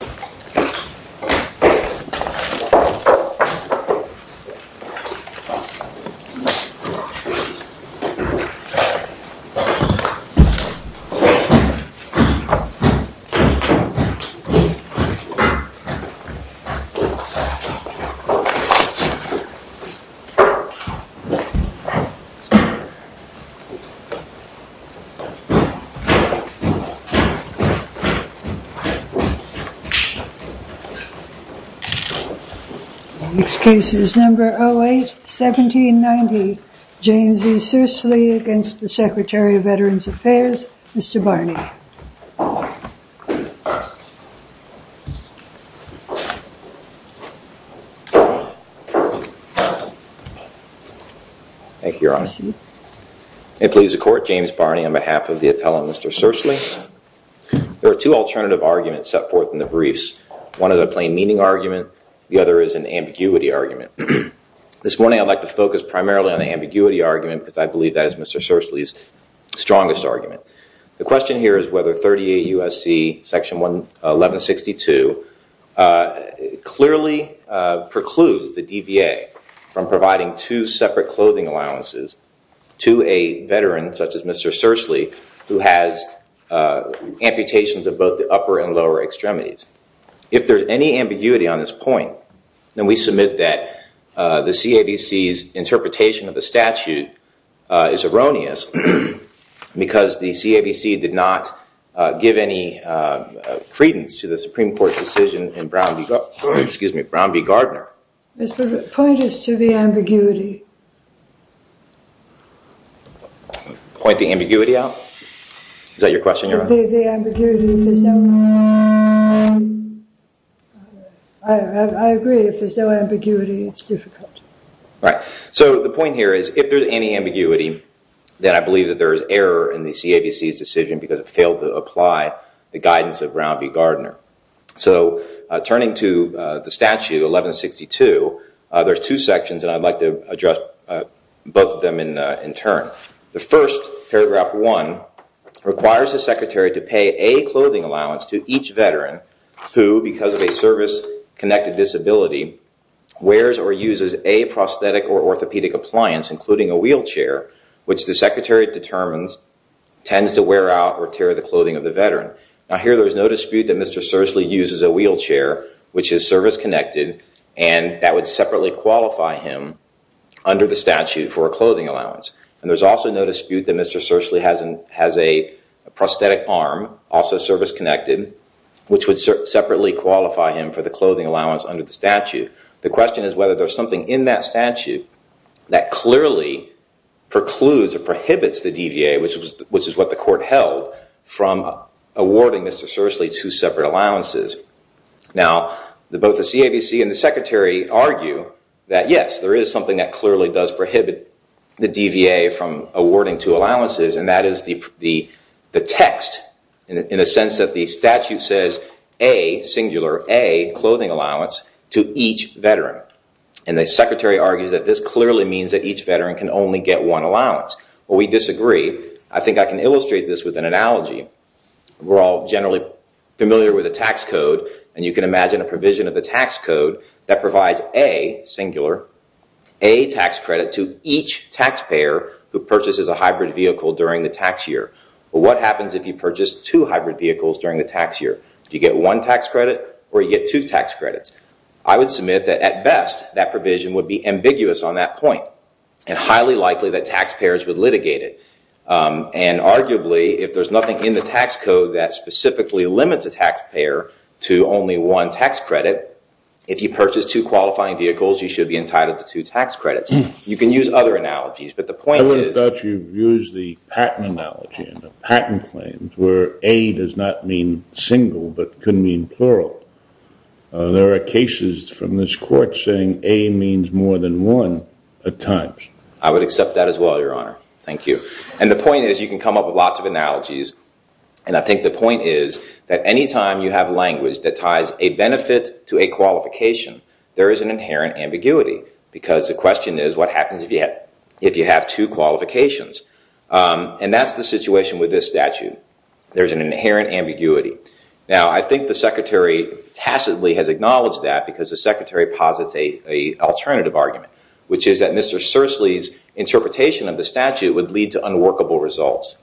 legal I I o throw okay up good and who per one home health up per to to names cases number light seventy in ninety James' is seriously against the Secretary of Veterans Affairs vestibular tel and home without thing if you're on it is a court James Barney on behalf of the appellant Mr. Cercily there are two alternative arguments set forth in the briefs one is a plain meaning argument the other is an ambiguity argument this morning I'd like to focus primarily on the ambiguity argument because I believe that is Mr. Cercily's strongest argument the question here is whether 38 U.S.C. section 1162 uh clearly uh precludes the DVA from providing two separate clothing allowances to a veteran such as Mr. Cercily who has uh amputations of both the upper and lower extremities if there's any ambiguity on this point then we submit that uh... the CAVC's interpretation of the statute uh... is erroneous because the CAVC did not uh... give any uh... credence to the Supreme Court's decision in Brown v. Gardner excuse me Brown v. Gardner Mr. Point is to the ambiguity point the ambiguity out is that your question your the the ambiguity I agree if there's no ambiguity it's difficult right so the point here is if there's any ambiguity then I believe that there is error in the CAVC's decision because it failed to apply the guidance of Brown v. Gardner so uh turning to uh the statute 1162 there's two sections and I'd like to address both of them in uh in turn the first paragraph one requires the secretary to pay a clothing allowance to each veteran who because of a service-connected disability wears or uses a prosthetic or orthopedic appliance including a wheelchair tends to wear out or tear the clothing of the veteran now here there's no dispute that Mr. Sersely uses a wheelchair which is service-connected and that would separately qualify him under the statute for a clothing allowance and there's also no dispute that Mr. Sersely hasn't has a prosthetic arm also service-connected which would separately qualify him for the clothing allowance under the statute the question is whether there's something in that statute that clearly precludes or prohibits the DVA which was which is what the court held from awarding Mr. Sersely two separate allowances now the both the CAVC and the secretary argue that yes there is something that clearly does prohibit the DVA from awarding two allowances and that is the the text in a sense that the statute says a singular a clothing allowance to each veteran and the secretary argues that this clearly means that each veteran can only get one allowance well we disagree I think I can illustrate this with an analogy we're all generally familiar with the tax code and you can imagine a provision of the tax code that provides a singular a tax credit to each taxpayer who purchases a hybrid vehicle during the tax year but what happens if you purchase two hybrid vehicles during the tax year do you get one tax credit or you get two tax credits I would submit that at best that provision would be ambiguous on that point and highly likely that taxpayers would litigate it and arguably if there's nothing in the tax code that specifically limits a taxpayer to only one tax credit if you purchase two qualifying vehicles you should be entitled to two tax credits you can use other analogies but the point is that you've used the patent analogy and the patent claims where a does not mean single but could mean plural there are cases from this court saying a means more than one at times I would accept that as well your honor thank you and the point is you can come up with lots of analogies and I think the point is that anytime you have language that ties a benefit to a qualification there is an inherent ambiguity because the question is what happens if you have two qualifications and that's the situation with this statute there's an inherent ambiguity now I think the secretary tacitly has acknowledged that because the secretary posits a alternative argument which is that Mr. Sersely's interpretation of the statute would lead to unworkable results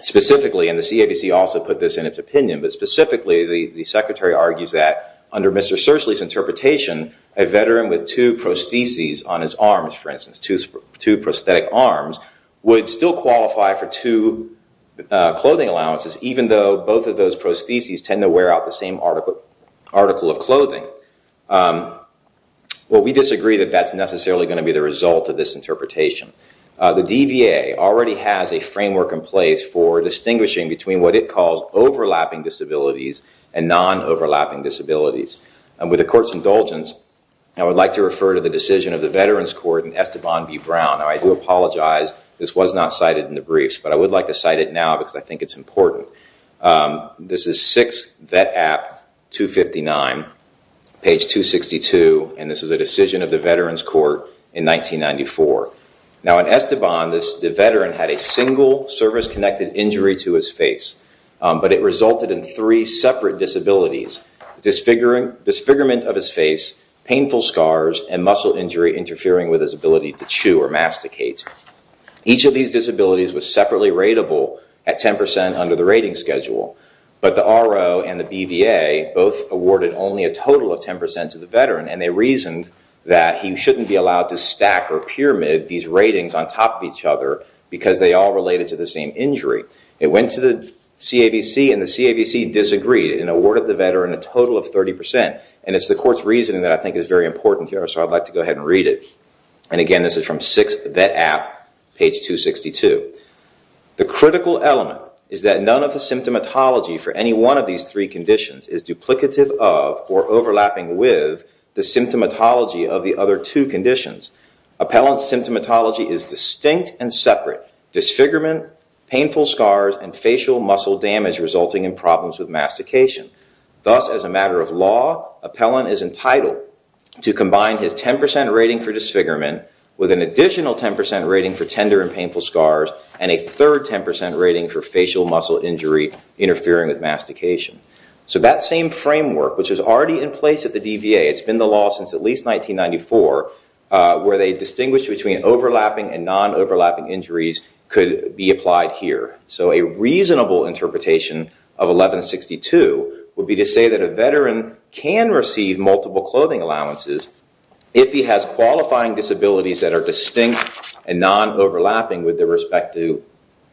specifically and the CABC also put this in its opinion but specifically the secretary argues that under Mr. Sersely's interpretation a veteran with two prostheses on his arms for instance two prosthetic arms would still qualify for two clothing allowances even though both of those prostheses tend to wear out the same article of clothing um well we disagree that that's necessarily going to be the result of this interpretation the DVA already has a framework in place for distinguishing between what it calls overlapping disabilities and non-overlapping disabilities and with the court's indulgence I would like to refer to the decision of the veterans court in Esteban B. Brown now I do apologize this was not cited in the briefs but I would like to cite it now because I think it's important this is 6 vet app 259 page 262 and this is a decision of the veterans court in 1994 now in Esteban this the veteran had a single service-connected injury to his face but it resulted in three separate disabilities disfiguring disfigurement of his face painful scars and muscle injury interfering with his ability to chew or masticate each of these disabilities was separately rateable at 10% under the rating schedule but the RO and the BVA both awarded only a total of 10% to the veteran and they reasoned that he shouldn't be allowed to stack or pyramid these ratings on top of each other because they all related to the same injury it went to the CAVC and the CAVC disagreed and awarded the veteran a total of 30% and it's the court's reasoning that I think is very important here so I'd like to go ahead and read it and again this is from 6 vet app page 262 the critical element is that none of the symptomatology for any one of these three conditions is duplicative of or overlapping with the symptomatology of the other two conditions appellant's symptomatology is distinct and separate disfigurement painful scars and facial muscle damage resulting in problems with mastication thus as a matter of law appellant is entitled to combine his 10% rating for disfigurement with an additional 10% rating for tender and painful scars and a third 10% rating for facial muscle injury interfering with mastication so that same framework which is already in place at the DVA it's been the law since at least 1994 where they distinguish between overlapping and non-overlapping injuries could be applied here so a reasonable interpretation of 1162 would be to say that a veteran can receive multiple clothing allowances if he has qualifying disabilities that are distinct and non-overlapping with the respect to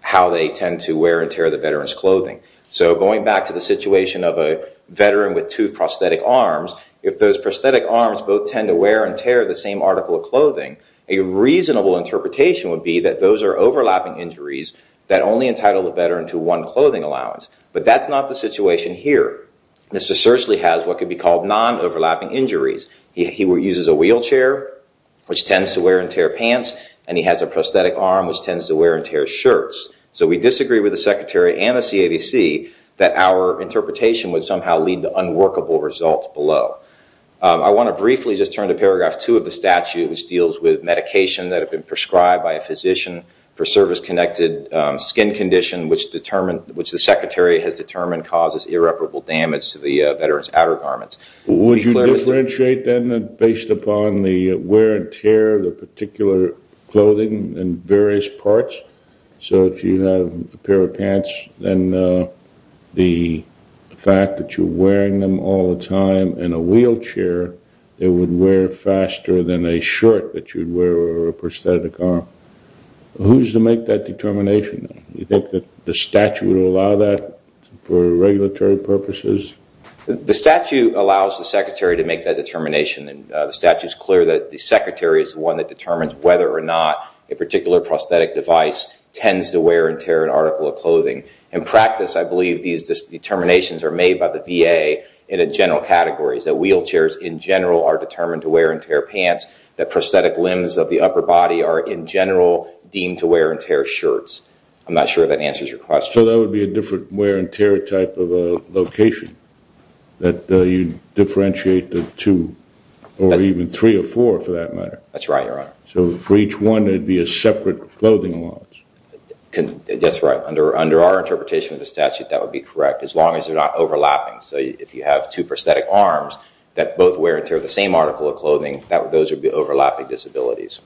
how they tend to wear and tear the veteran's clothing so going back to the situation of a veteran with two prosthetic arms if those prosthetic arms both tend to wear and tear the same article of clothing a reasonable interpretation would be that those are overlapping injuries that only entitle the veteran to one clothing allowance but that's not the situation here Mr. Sersley has what could be called non-overlapping injuries he uses a wheelchair which tends to wear and tear pants and he has a prosthetic arm which tends to wear and tear shirts so we disagree with the secretary and the CADC that our interpretation would somehow lead to unworkable results below I want to briefly just turn to paragraph two of the statute which deals with medication that have been prescribed by a physician for service-connected skin condition which determined which the secretary has determined causes irreparable damage to the veteran's outer garments Would you differentiate then based upon the wear and tear the particular clothing and various parts so if you have a pair of pants then the fact that you're wearing them all the time in a wheelchair they would wear faster than a shirt that you'd wear or a prosthetic arm Who's to make that determination? You think that the statute would allow that for regulatory purposes? The statute allows the secretary to make that determination and the statute is clear that the secretary is the one that determines whether or not a particular prosthetic device tends to wear and tear an article of clothing In practice, I believe these determinations are made by the VA in a general category is that wheelchairs in general are determined to wear and tear pants that prosthetic limbs of the upper body are in general deemed to wear and tear shirts I'm not sure if that answers your question So that would be a different wear and tear type of a location that you differentiate the two or even three or four for that matter That's right, your honor So for each one there'd be a separate clothing allowance That's right Under our interpretation of the statute that would be correct as long as they're not overlapping So if you have two prosthetic arms that both wear and tear the same article of clothing those would be overlapping disabilities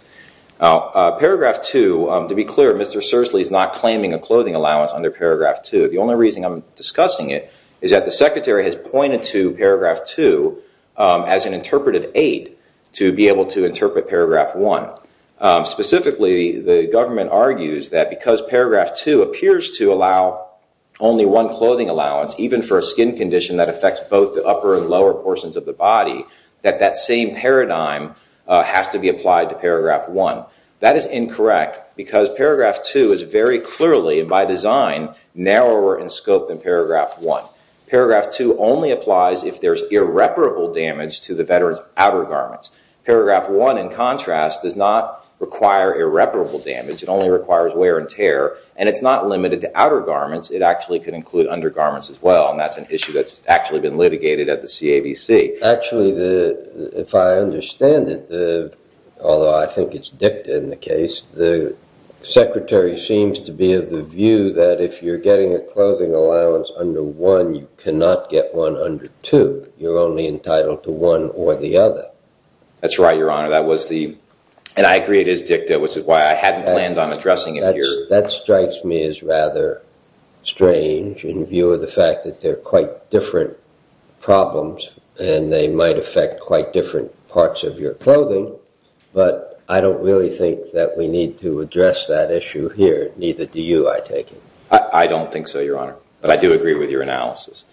Now, paragraph two to be clear Mr. Sersely is not claiming a clothing allowance under paragraph two The only reason I'm discussing it is that the secretary has pointed to paragraph two as an interpretive aid to be able to interpret paragraph one Specifically, the government argues that because paragraph two appears to allow only one clothing allowance even for a skin condition that affects both the upper and lower portions of the body that that same paradigm has to be applied to paragraph one That is incorrect because paragraph two is very clearly by design narrower in scope than paragraph one Paragraph two only applies if there's irreparable damage to the veteran's outer garments Paragraph one in contrast does not require irreparable damage It only requires wear and tear and it's not limited to outer garments It actually could include undergarments as well And that's an issue that's actually been litigated at the CAVC Actually, if I understand it although I think it's dictated in the case the secretary seems to be of the view that if you're getting a clothing allowance under one you cannot get one under two You're only entitled to one or the other That's right, your honor That was the and I agree it is dicta which is why I hadn't planned on addressing it here That strikes me as rather strange in view of the fact that they're quite different problems and they might affect quite different parts of your clothing But I don't really think that we need to address that issue here Neither do you, I take it I don't think so, your honor But I do agree with your analysis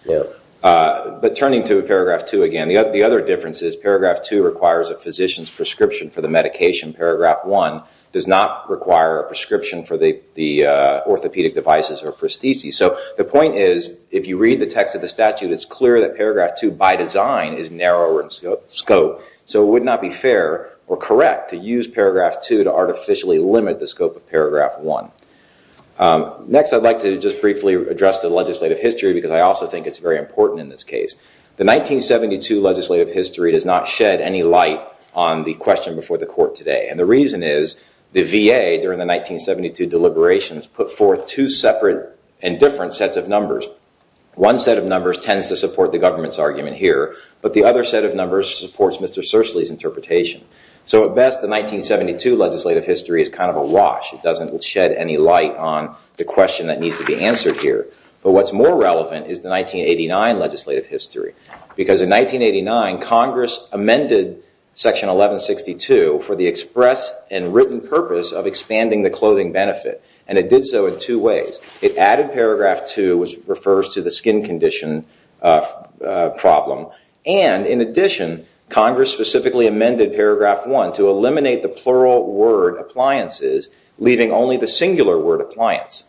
But turning to paragraph two again The other difference is paragraph two requires a physician's prescription for the medication Paragraph one does not require a prescription for the orthopedic devices or prostheses So the point is if you read the text of the statute it's clear that paragraph two by design is narrower in scope So it would not be fair or correct to use paragraph two to artificially limit the scope of paragraph one Next, I'd like to just briefly address the legislative history because I also think it's very important in this case The 1972 legislative history does not shed any light on the question before the court today And the reason is the VA during the 1972 deliberations put forth two separate and different sets of numbers One set of numbers tends to support the government's argument here But the other set of numbers supports Mr. Sersely's interpretation So at best the 1972 legislative history is kind of a wash It doesn't shed any light on the question that needs to be answered here But what's more relevant is the 1989 legislative history Because in 1989 Congress amended section 1162 for the express and written purpose of expanding the clothing benefit And it did so in two ways It added paragraph two which refers to the skin condition problem And in addition Congress specifically amended paragraph one to eliminate the plural word appliances leaving only the singular word appliance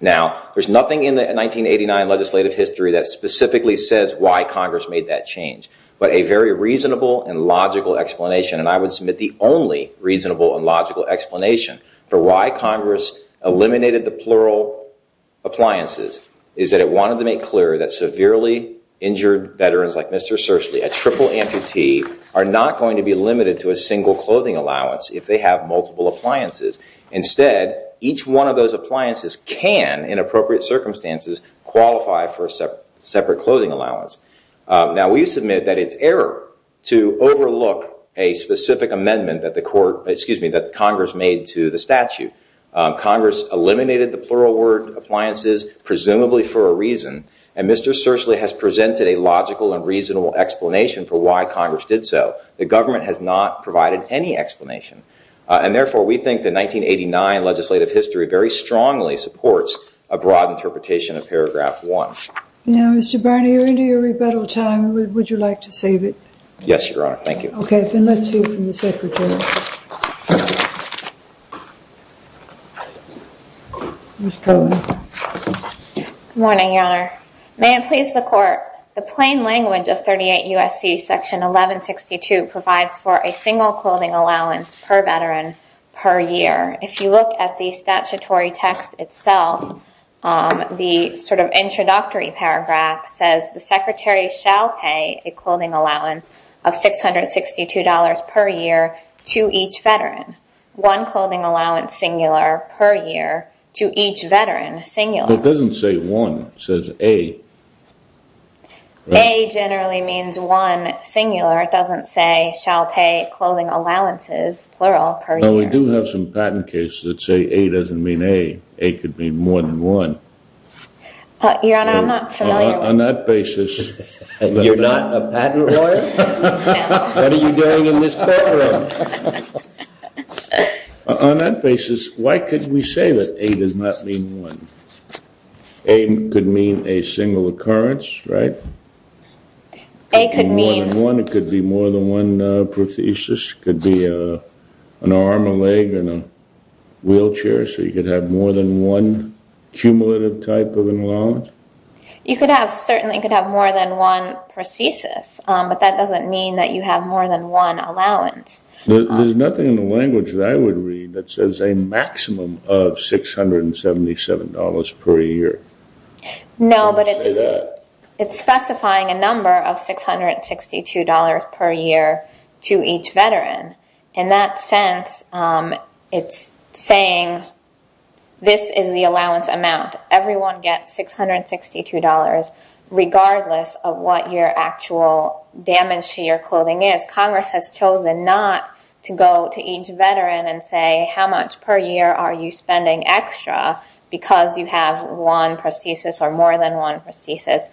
Now there's nothing in the 1989 legislative history that specifically says why Congress made that change But a very reasonable and logical explanation And I would submit the only reasonable and logical explanation for why Congress eliminated the plural appliances is that it wanted to make clear that severely injured veterans like Mr. Sersely, a triple amputee are not going to be limited to a single clothing allowance if they have multiple appliances Instead, each one of those appliances can in appropriate circumstances qualify for a separate clothing allowance Now we submit that it's error to overlook a specific amendment that the court, excuse me that Congress made to the statute Congress eliminated the plural word appliances presumably for a reason And Mr. Sersely has presented a logical and reasonable explanation for why Congress did so The government has not provided any explanation And therefore we think the 1989 legislative history very strongly supports a broad interpretation of paragraph one Now Mr. Barney you're into your rebuttal time Would you like to save it? Yes, your honor Thank you OK, then let's see from the secretary Ms. Cohen Good morning, your honor May it please the court The plain language of 38 USC section 1162 provides for a single clothing allowance per veteran per year If you look at the statutory text itself the sort of introductory paragraph says the secretary shall pay a clothing allowance of $662 per year to each veteran One clothing allowance singular per year to each veteran singular It doesn't say one, it says A It doesn't say shall pay clothing allowances plural per year We do have some patent cases that say A doesn't mean A A could mean more than one Your honor, I'm not familiar On that basis You're not a patent lawyer? What are you doing in this courtroom? On that basis why could we say that A does not mean one? A could mean a single occurrence, right? A could mean One could be more than one Could be an arm, a leg, and a wheelchair So you could have more than one cumulative type of allowance You could have certainly could have more than one per thesis But that doesn't mean that you have more than one allowance There's nothing in the language that I would read that says a maximum of $677 per year No, but it's specifying a number of $662 per year to each veteran In that sense, it's saying this is the allowance amount Everyone gets $662 regardless of what your actual damage to your clothing is Congress has chosen not to go to each veteran and say how much per year are you spending extra because you have one prosthesis or more than one prosthesis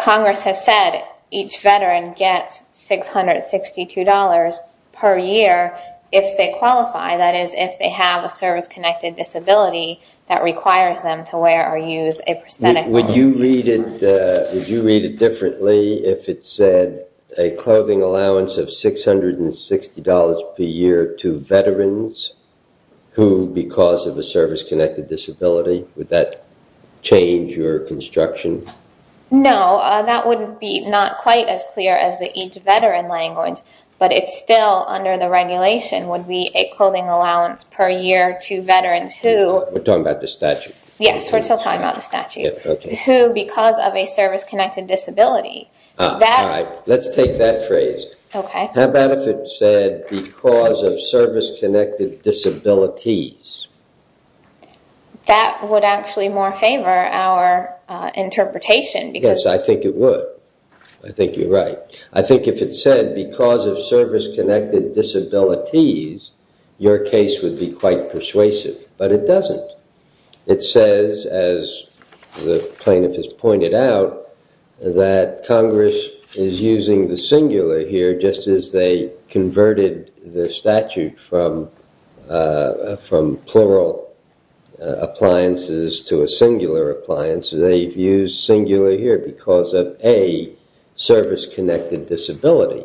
Congress has said each veteran gets $662 per year if they qualify That is, if they have a service connected disability that requires them to wear or use a prosthetic Would you read it differently if it said a clothing allowance of $660 per year to veterans who because of a service connected disability Would that change your construction? No, that wouldn't be not quite as clear as the each veteran language But it's still under the regulation would be a clothing allowance per year to veterans who we're talking about the statute Yes, we're still talking about the statute who because of a service connected disability Let's take that phrase OK, how about if it said because of service connected disabilities That would actually more favor our interpretation Because I think it would I think you're right I think if it said because of service connected disabilities your case would be quite persuasive But it doesn't It says as the plaintiff has pointed out that Congress is using the singular here just as they converted the statute from from plural appliances to a singular appliance They've used singular here because of a service connected disability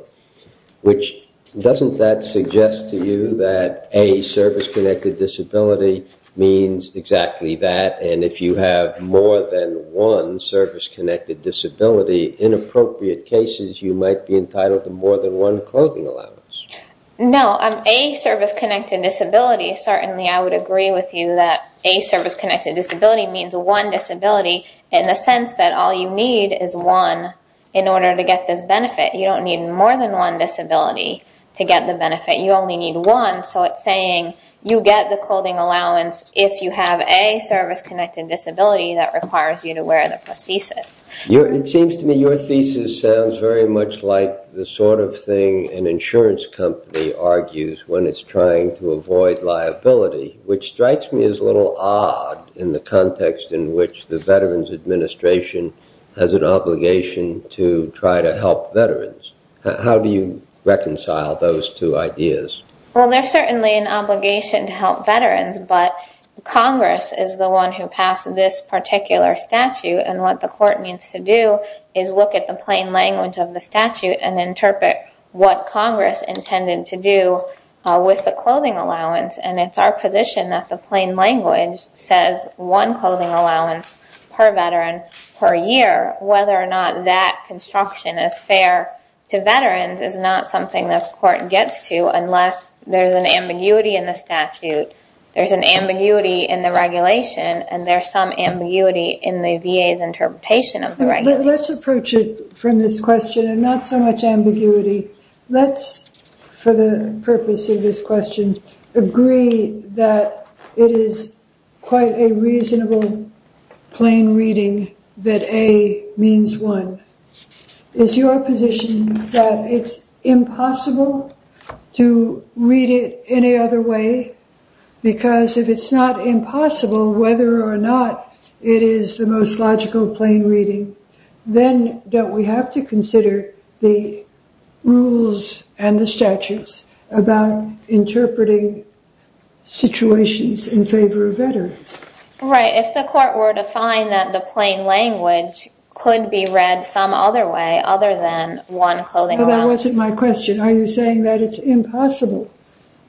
Which doesn't that suggest to you that a service connected disability means exactly that And if you have more than one service connected disability in appropriate cases you might be entitled to more than one clothing allowance No, a service connected disability Certainly I would agree with you A service connected disability means one disability in the sense that all you need is one in order to get this benefit You don't need more than one disability to get the benefit You only need one So it's saying you get the clothing allowance if you have a service connected disability that requires you to wear the prosthesis It seems to me your thesis sounds very much like the sort of thing an insurance company argues when it's trying to avoid liability Which strikes me as a little odd in the context in which the Veterans Administration has an obligation to try to help veterans How do you reconcile those two ideas? Well, there's certainly an obligation to help veterans But Congress is the one who passed this particular statute And what the court needs to do is look at the plain language of the statute and interpret what Congress intended to do with the clothing allowance And it's our position that the plain language says one clothing allowance per veteran per year Whether or not that construction is fair to veterans is not something this court gets to unless there's an ambiguity in the statute There's an ambiguity in the regulation and there's some ambiguity in the VA's interpretation of the regulation Let's approach it from this question and not so much ambiguity Let's, for the purpose of this question, agree that it is quite a reasonable plain reading that A means one Is your position that it's impossible to read it any other way? Because if it's not impossible whether or not it is the most logical plain reading then don't we have to consider the rules and the statutes about interpreting situations in favor of veterans? Right, if the court were to find that the plain language could be read some other way other than one clothing allowance That wasn't my question Are you saying that it's impossible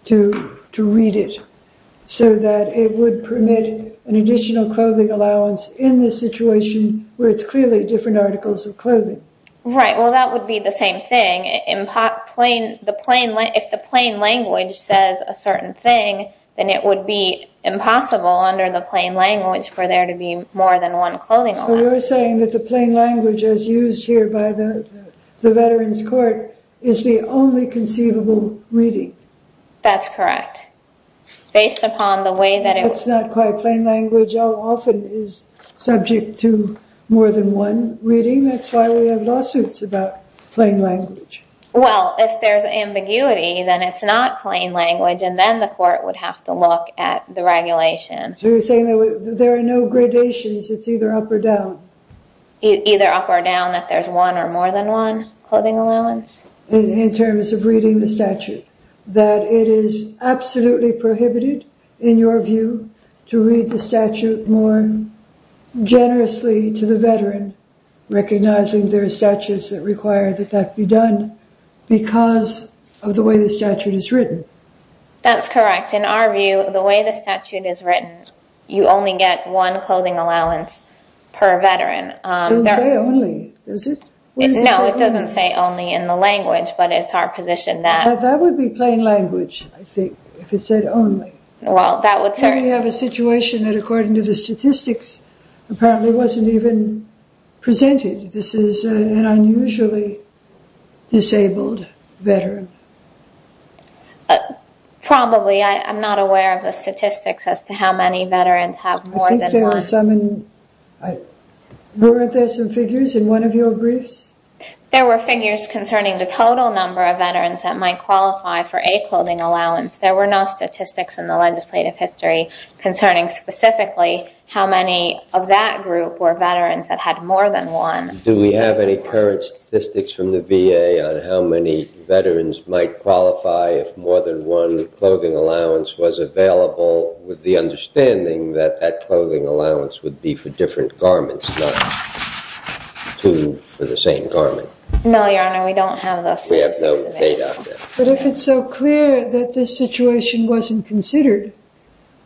to read it so that it would permit an additional clothing allowance in this situation where it's clearly different articles of clothing? Right, well that would be the same thing If the plain language says a certain thing then it would be impossible under the plain language for there to be more than one clothing allowance So you're saying that the plain language as used here by the veterans court is the only conceivable reading? That's correct Based upon the way that it was It's not quite plain language How often is subject to more than one reading? That's why we have lawsuits about plain language Well if there's ambiguity then it's not plain language and then the court would have to look at the regulation So you're saying there are no gradations it's either up or down Either up or down that there's one or more than one clothing allowance? In terms of reading the statute that it is absolutely prohibited in your view to read the statute more generously to the veteran recognizing there are statutes that require that that be done because of the way the statute is written That's correct In our view the way the statute is written you only get one clothing allowance per veteran It doesn't say only does it? No it doesn't say only in the language but it's our position that That would be plain language I think if it said only Well that would certainly We have a situation that according to the statistics apparently wasn't even presented This is an unusually disabled veteran Probably I'm not aware of the statistics as to how many veterans have more than one I think there were some in Weren't there some figures in one of your briefs? There were figures concerning the total number of veterans that might qualify for a clothing allowance There were no statistics in the legislative history concerning specifically how many of that group were veterans that had more than one Do we have any current statistics from the VA on how many veterans might qualify if more than one clothing allowance was available with the understanding that that clothing allowance would be for different garments not two for the same garment No your honor We don't have those We have no data But if it's so clear that this situation wasn't considered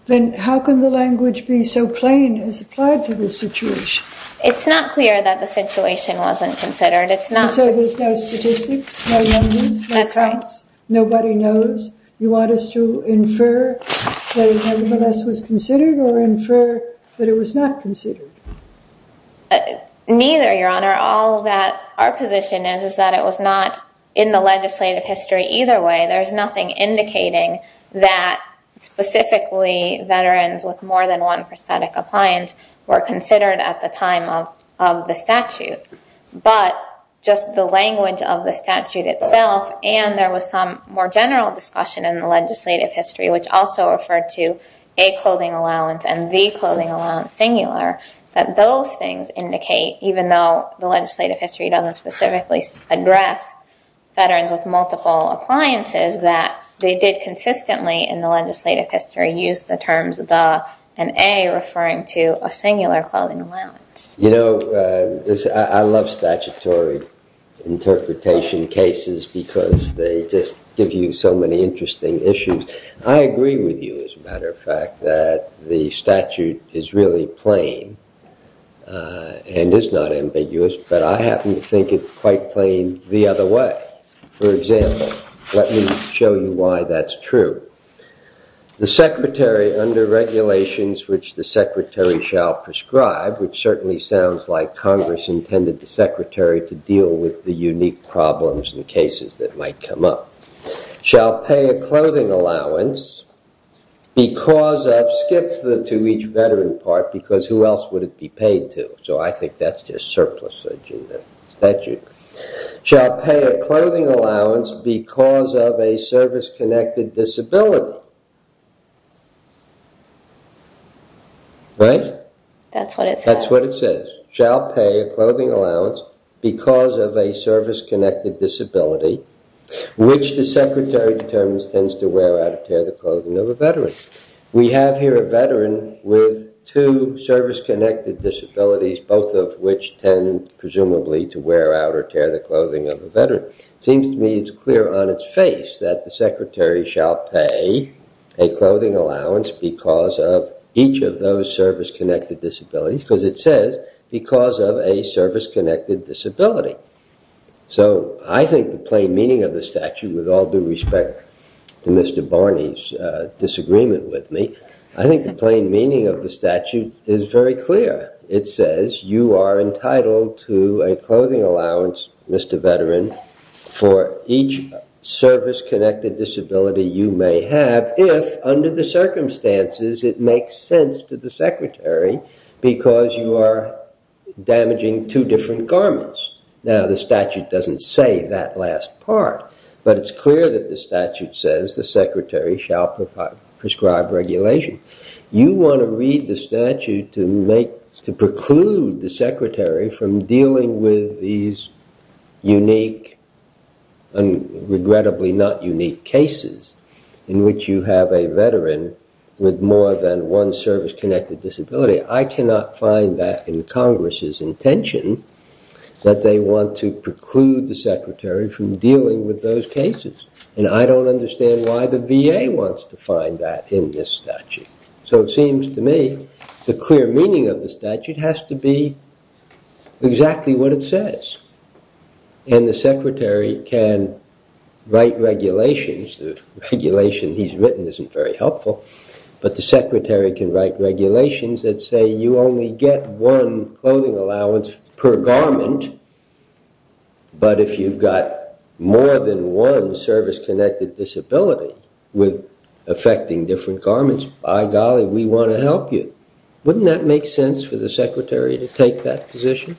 then how can the language be so plain as applied to this situation? It's not clear that the situation wasn't considered It's not So there's no statistics no numbers no counts Nobody knows You want us to infer that it nevertheless was considered or infer that it was not considered? Neither your honor All that our position is that it was not in the legislative history either way There's nothing indicating that specifically veterans with more than one prosthetic appliance were considered at the time of the statute But just the language of the statute itself and there was some more general discussion in the legislative history which also referred to a clothing allowance and the clothing allowance singular that those things indicate even though the legislative history doesn't specifically address veterans with multiple appliances that they did consistently in the legislative history use the terms the and a referring to a singular clothing allowance You know, I love statutory interpretation cases because they just give you so many interesting issues I agree with you as a matter of fact that the statute is really plain and is not ambiguous but I happen to think it's quite plain the other way For example, let me show you why that's true The secretary under regulations which the secretary shall prescribe which certainly sounds like congress intended the secretary to deal with the unique problems and cases that might come up shall pay a clothing allowance because of skip to each veteran part because who else would it be paid to so I think that's just surplus in the statute shall pay a clothing allowance because of a service connected disability Right? That's what it says That's what it says shall pay a clothing allowance because of a service connected disability which the secretary determines tends to wear out or tear the clothing of a veteran We have here a veteran with two service connected disabilities both of which tend presumably to wear out or tear the clothing of a veteran Seems to me it's clear on its face that the secretary shall pay a clothing allowance because of each of those service connected disabilities because it says because of a service connected disability So I think the plain meaning of the statute with all due respect to Mr. Barney's disagreement with me I think the plain meaning of the statute is very clear It says you are entitled to a clothing allowance Mr. Veteran for each service connected disability you may have if under the circumstances it makes sense to the secretary because you are damaging two different garments Now the statute doesn't say that last part but it's clear that the statute says the secretary shall prescribe regulation You want to read the statute to make to preclude the secretary from dealing with these unique and regrettably not unique cases in which you have a veteran with more than one service connected disability I cannot find that in Congress's intention that they want to preclude the secretary from dealing with those cases and I don't understand why the VA wants to find that in this statute So it seems to me the clear meaning of the statute has to be exactly what it says and the secretary can write regulations the regulation he's written isn't very helpful but the secretary can write regulations that say you only get one clothing allowance per garment but if you've got more than one service connected disability with affecting different garments by golly we want to help you Wouldn't that make sense for the secretary to take that position?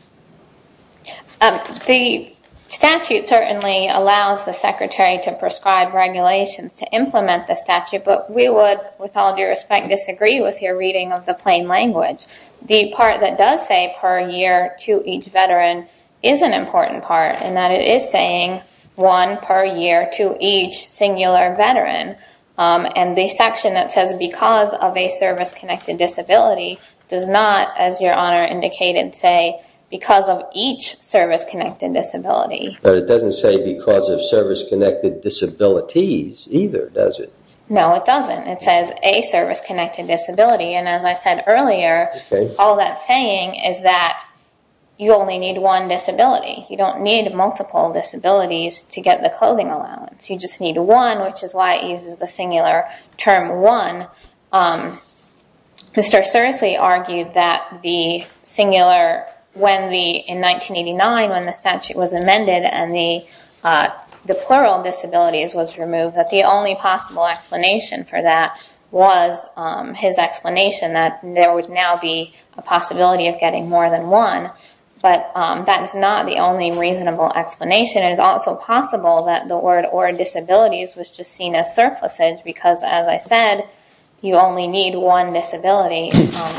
The statute certainly allows the secretary to prescribe regulations to implement the statute but we would with all due respect disagree with your reading of the plain language The part that does say per year to each veteran is an important part in that it is saying one per year to each singular veteran and the section that says because of a service connected disability does not as your honor indicated say because of each service connected disability But it doesn't say because of service connected disabilities either does it? No it doesn't it says a service connected disability and as I said earlier all that's saying is that you only need one disability you don't need multiple disabilities to get the clothing allowance you just need one which is why it uses the singular term one Mr. Sersi argued that the singular when the in 1989 when the statute was amended and the the plural disabilities was removed that the only possible explanation for that was his explanation that there would now be a possibility of getting more than one but that is not the only reasonable explanation it is also possible that the word or disabilities was just seen as surpluses because as I said you only need one disability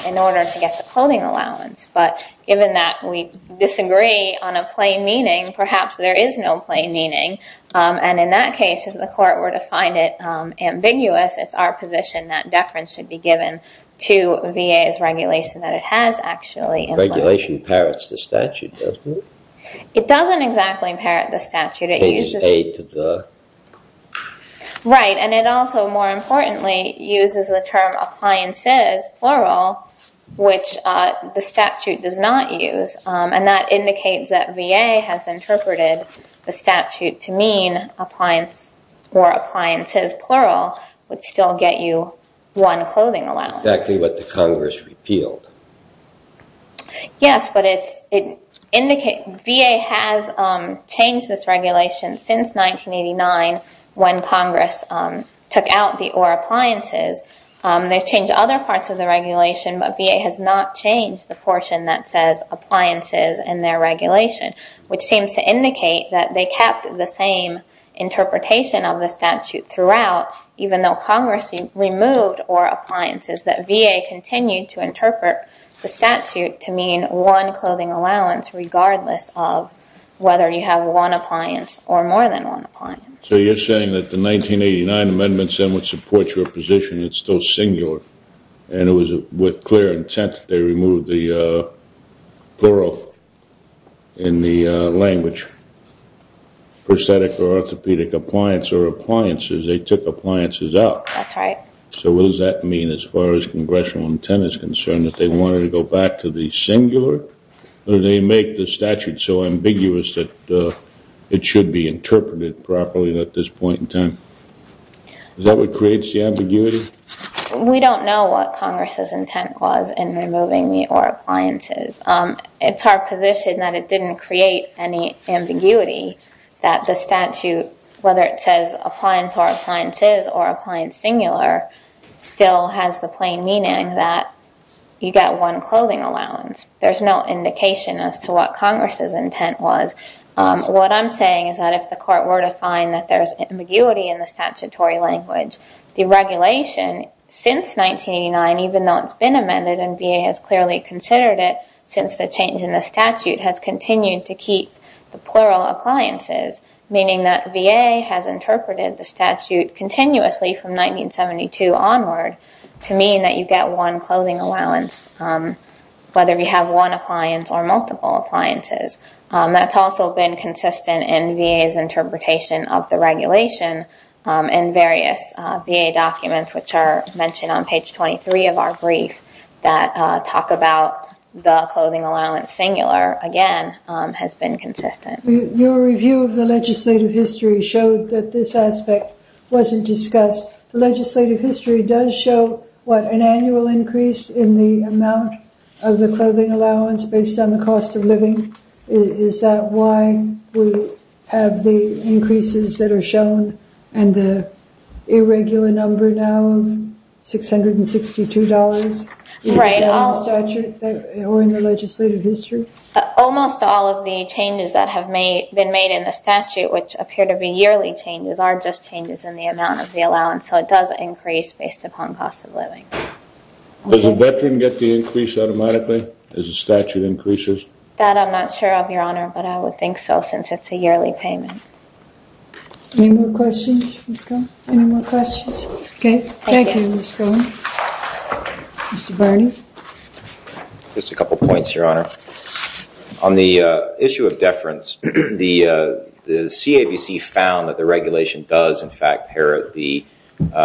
in order to get the clothing allowance but given that we disagree on a plain meaning perhaps there is no plain meaning and in that case if the court were to find it ambiguous it's our position that deference should be given to VA's regulation that it has actually regulation parrots the statute it doesn't exactly parrot the statute it uses right and it also more importantly uses the term appliances plural which the statute does not use and that indicates that VA has interpreted the statute to mean appliance or appliances plural would still get you one clothing allowance exactly what the congress repealed yes but it's it indicates VA has changed this regulation since 1989 when congress took out the or appliances they've changed other parts of the regulation but VA has not changed the portion that says appliances and their regulation which seems to indicate that they kept the same interpretation of the statute throughout even though congress removed or appliances that VA continued to interpret the statute to mean one clothing allowance regardless of whether you have one appliance or more than one appliance so you're saying that the 1989 amendments then would support your position it's still singular and it was with clear intent they removed the plural in the language prosthetic or orthopedic appliance or appliances they took appliances out that's right so what does that mean as far as congressional intent is concerned that they wanted to go back to the singular or they make the statute so ambiguous that it should be interpreted properly at this point in time is that what creates the ambiguity we don't know what congress's intent was in removing the or appliances it's our position that it didn't create any ambiguity that the statute whether it says appliance or appliances or appliance singular still has the plain meaning that you got one clothing allowance there's no indication as to what congress's intent was what i'm saying is that if the court were to find that there's ambiguity in the statutory language the regulation since 1989 even though it's been amended and VA has clearly considered it since the change in the statute has continued to keep the plural appliances meaning that VA has interpreted the statute continuously from 1972 onward to mean that you get one clothing allowance whether you have one appliance or multiple appliances that's also been consistent in VA's interpretation of the regulation and various VA documents which are mentioned on page 23 of our brief that talk about the clothing allowance singular again has been consistent your review of the legislative history showed that this aspect wasn't discussed the legislative history does show what an annual increase in the amount of the clothing allowance based on the cost of living is that why we have the increases that are shown and the irregular number now six hundred and sixty-two dollars right almost actually or in the legislative history almost all of the changes that have made been made in the statute which appear to be yearly changes are just changes in the amount of the allowance so it does increase based upon cost of living does a veteran get the increase automatically as the statute increases that I'm not sure of your honor but I would think so since it's a yearly payment any more questions let's go any more questions okay thank you let's go Mr. Barney just a couple points your honor on the issue of deference the CABC found that the regulation does in fact parrot the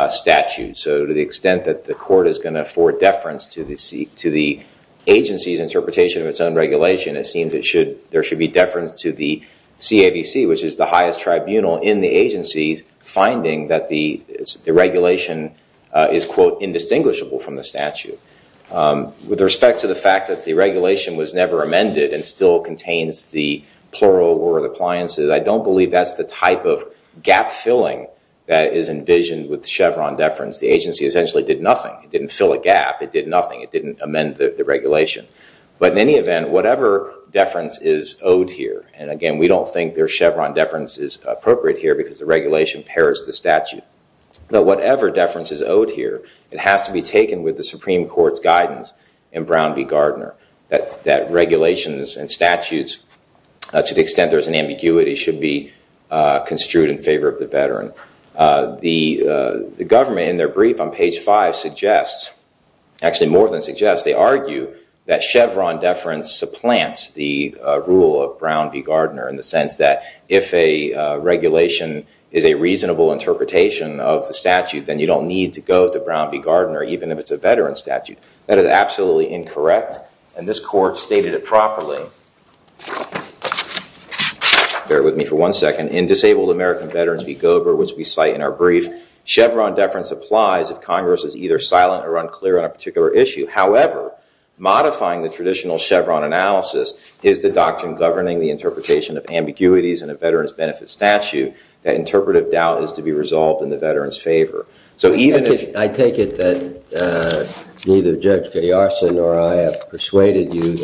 statute so to the extent that the court is going to afford deference to the agency's interpretation of its own regulation it seems it should there should be deference to the CABC which is the highest tribunal in the agency finding that the the regulation is quote indistinguishable from the statute with respect to the fact that the regulation was never amended and still contains the plural word appliances I don't believe that's the type of gap filling that is envisioned with chevron deference the agency essentially did nothing it didn't fill a gap it did nothing it didn't amend the regulation but in any event whatever deference is owed here and again we don't think their chevron deference is appropriate here because the regulation parrots the statute but whatever deference is owed here it has to be taken with the supreme court's guidance in brown v gardner that's that regulations and statutes to the extent there's an ambiguity should be construed in favor of the veteran the the government in their brief on page five suggests actually more than suggests they argue that chevron deference supplants the rule of brown v gardner in the sense that if a regulation is a reasonable interpretation of the statute then you don't need to go to brown v gardner even if it's a veteran statute that is absolutely incorrect and this court stated it properly bear with me for one second in disabled american veterans v gober which we cite in our brief chevron deference applies if congress is either silent or unclear on a particular issue however modifying the traditional chevron analysis is the doctrine governing the interpretation of ambiguities in a veteran's benefit statute that interpretive doubt is to be resolved in the veteran's favor so even if i take it that neither judge gay arson or i have persuaded you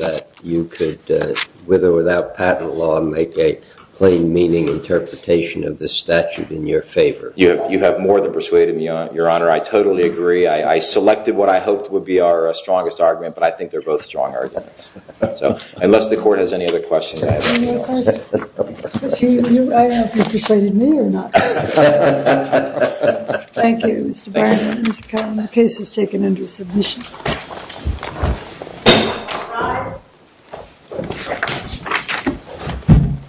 you could with or without patent law make a plain meaning interpretation of this statute in your favor you have you have more than persuaded me on your honor i totally agree i i selected what i hoped would be our strongest argument but i think they're both strong arguments so unless the court has any other questions thank you mr bernie mr calvin the case is taken under submission thank you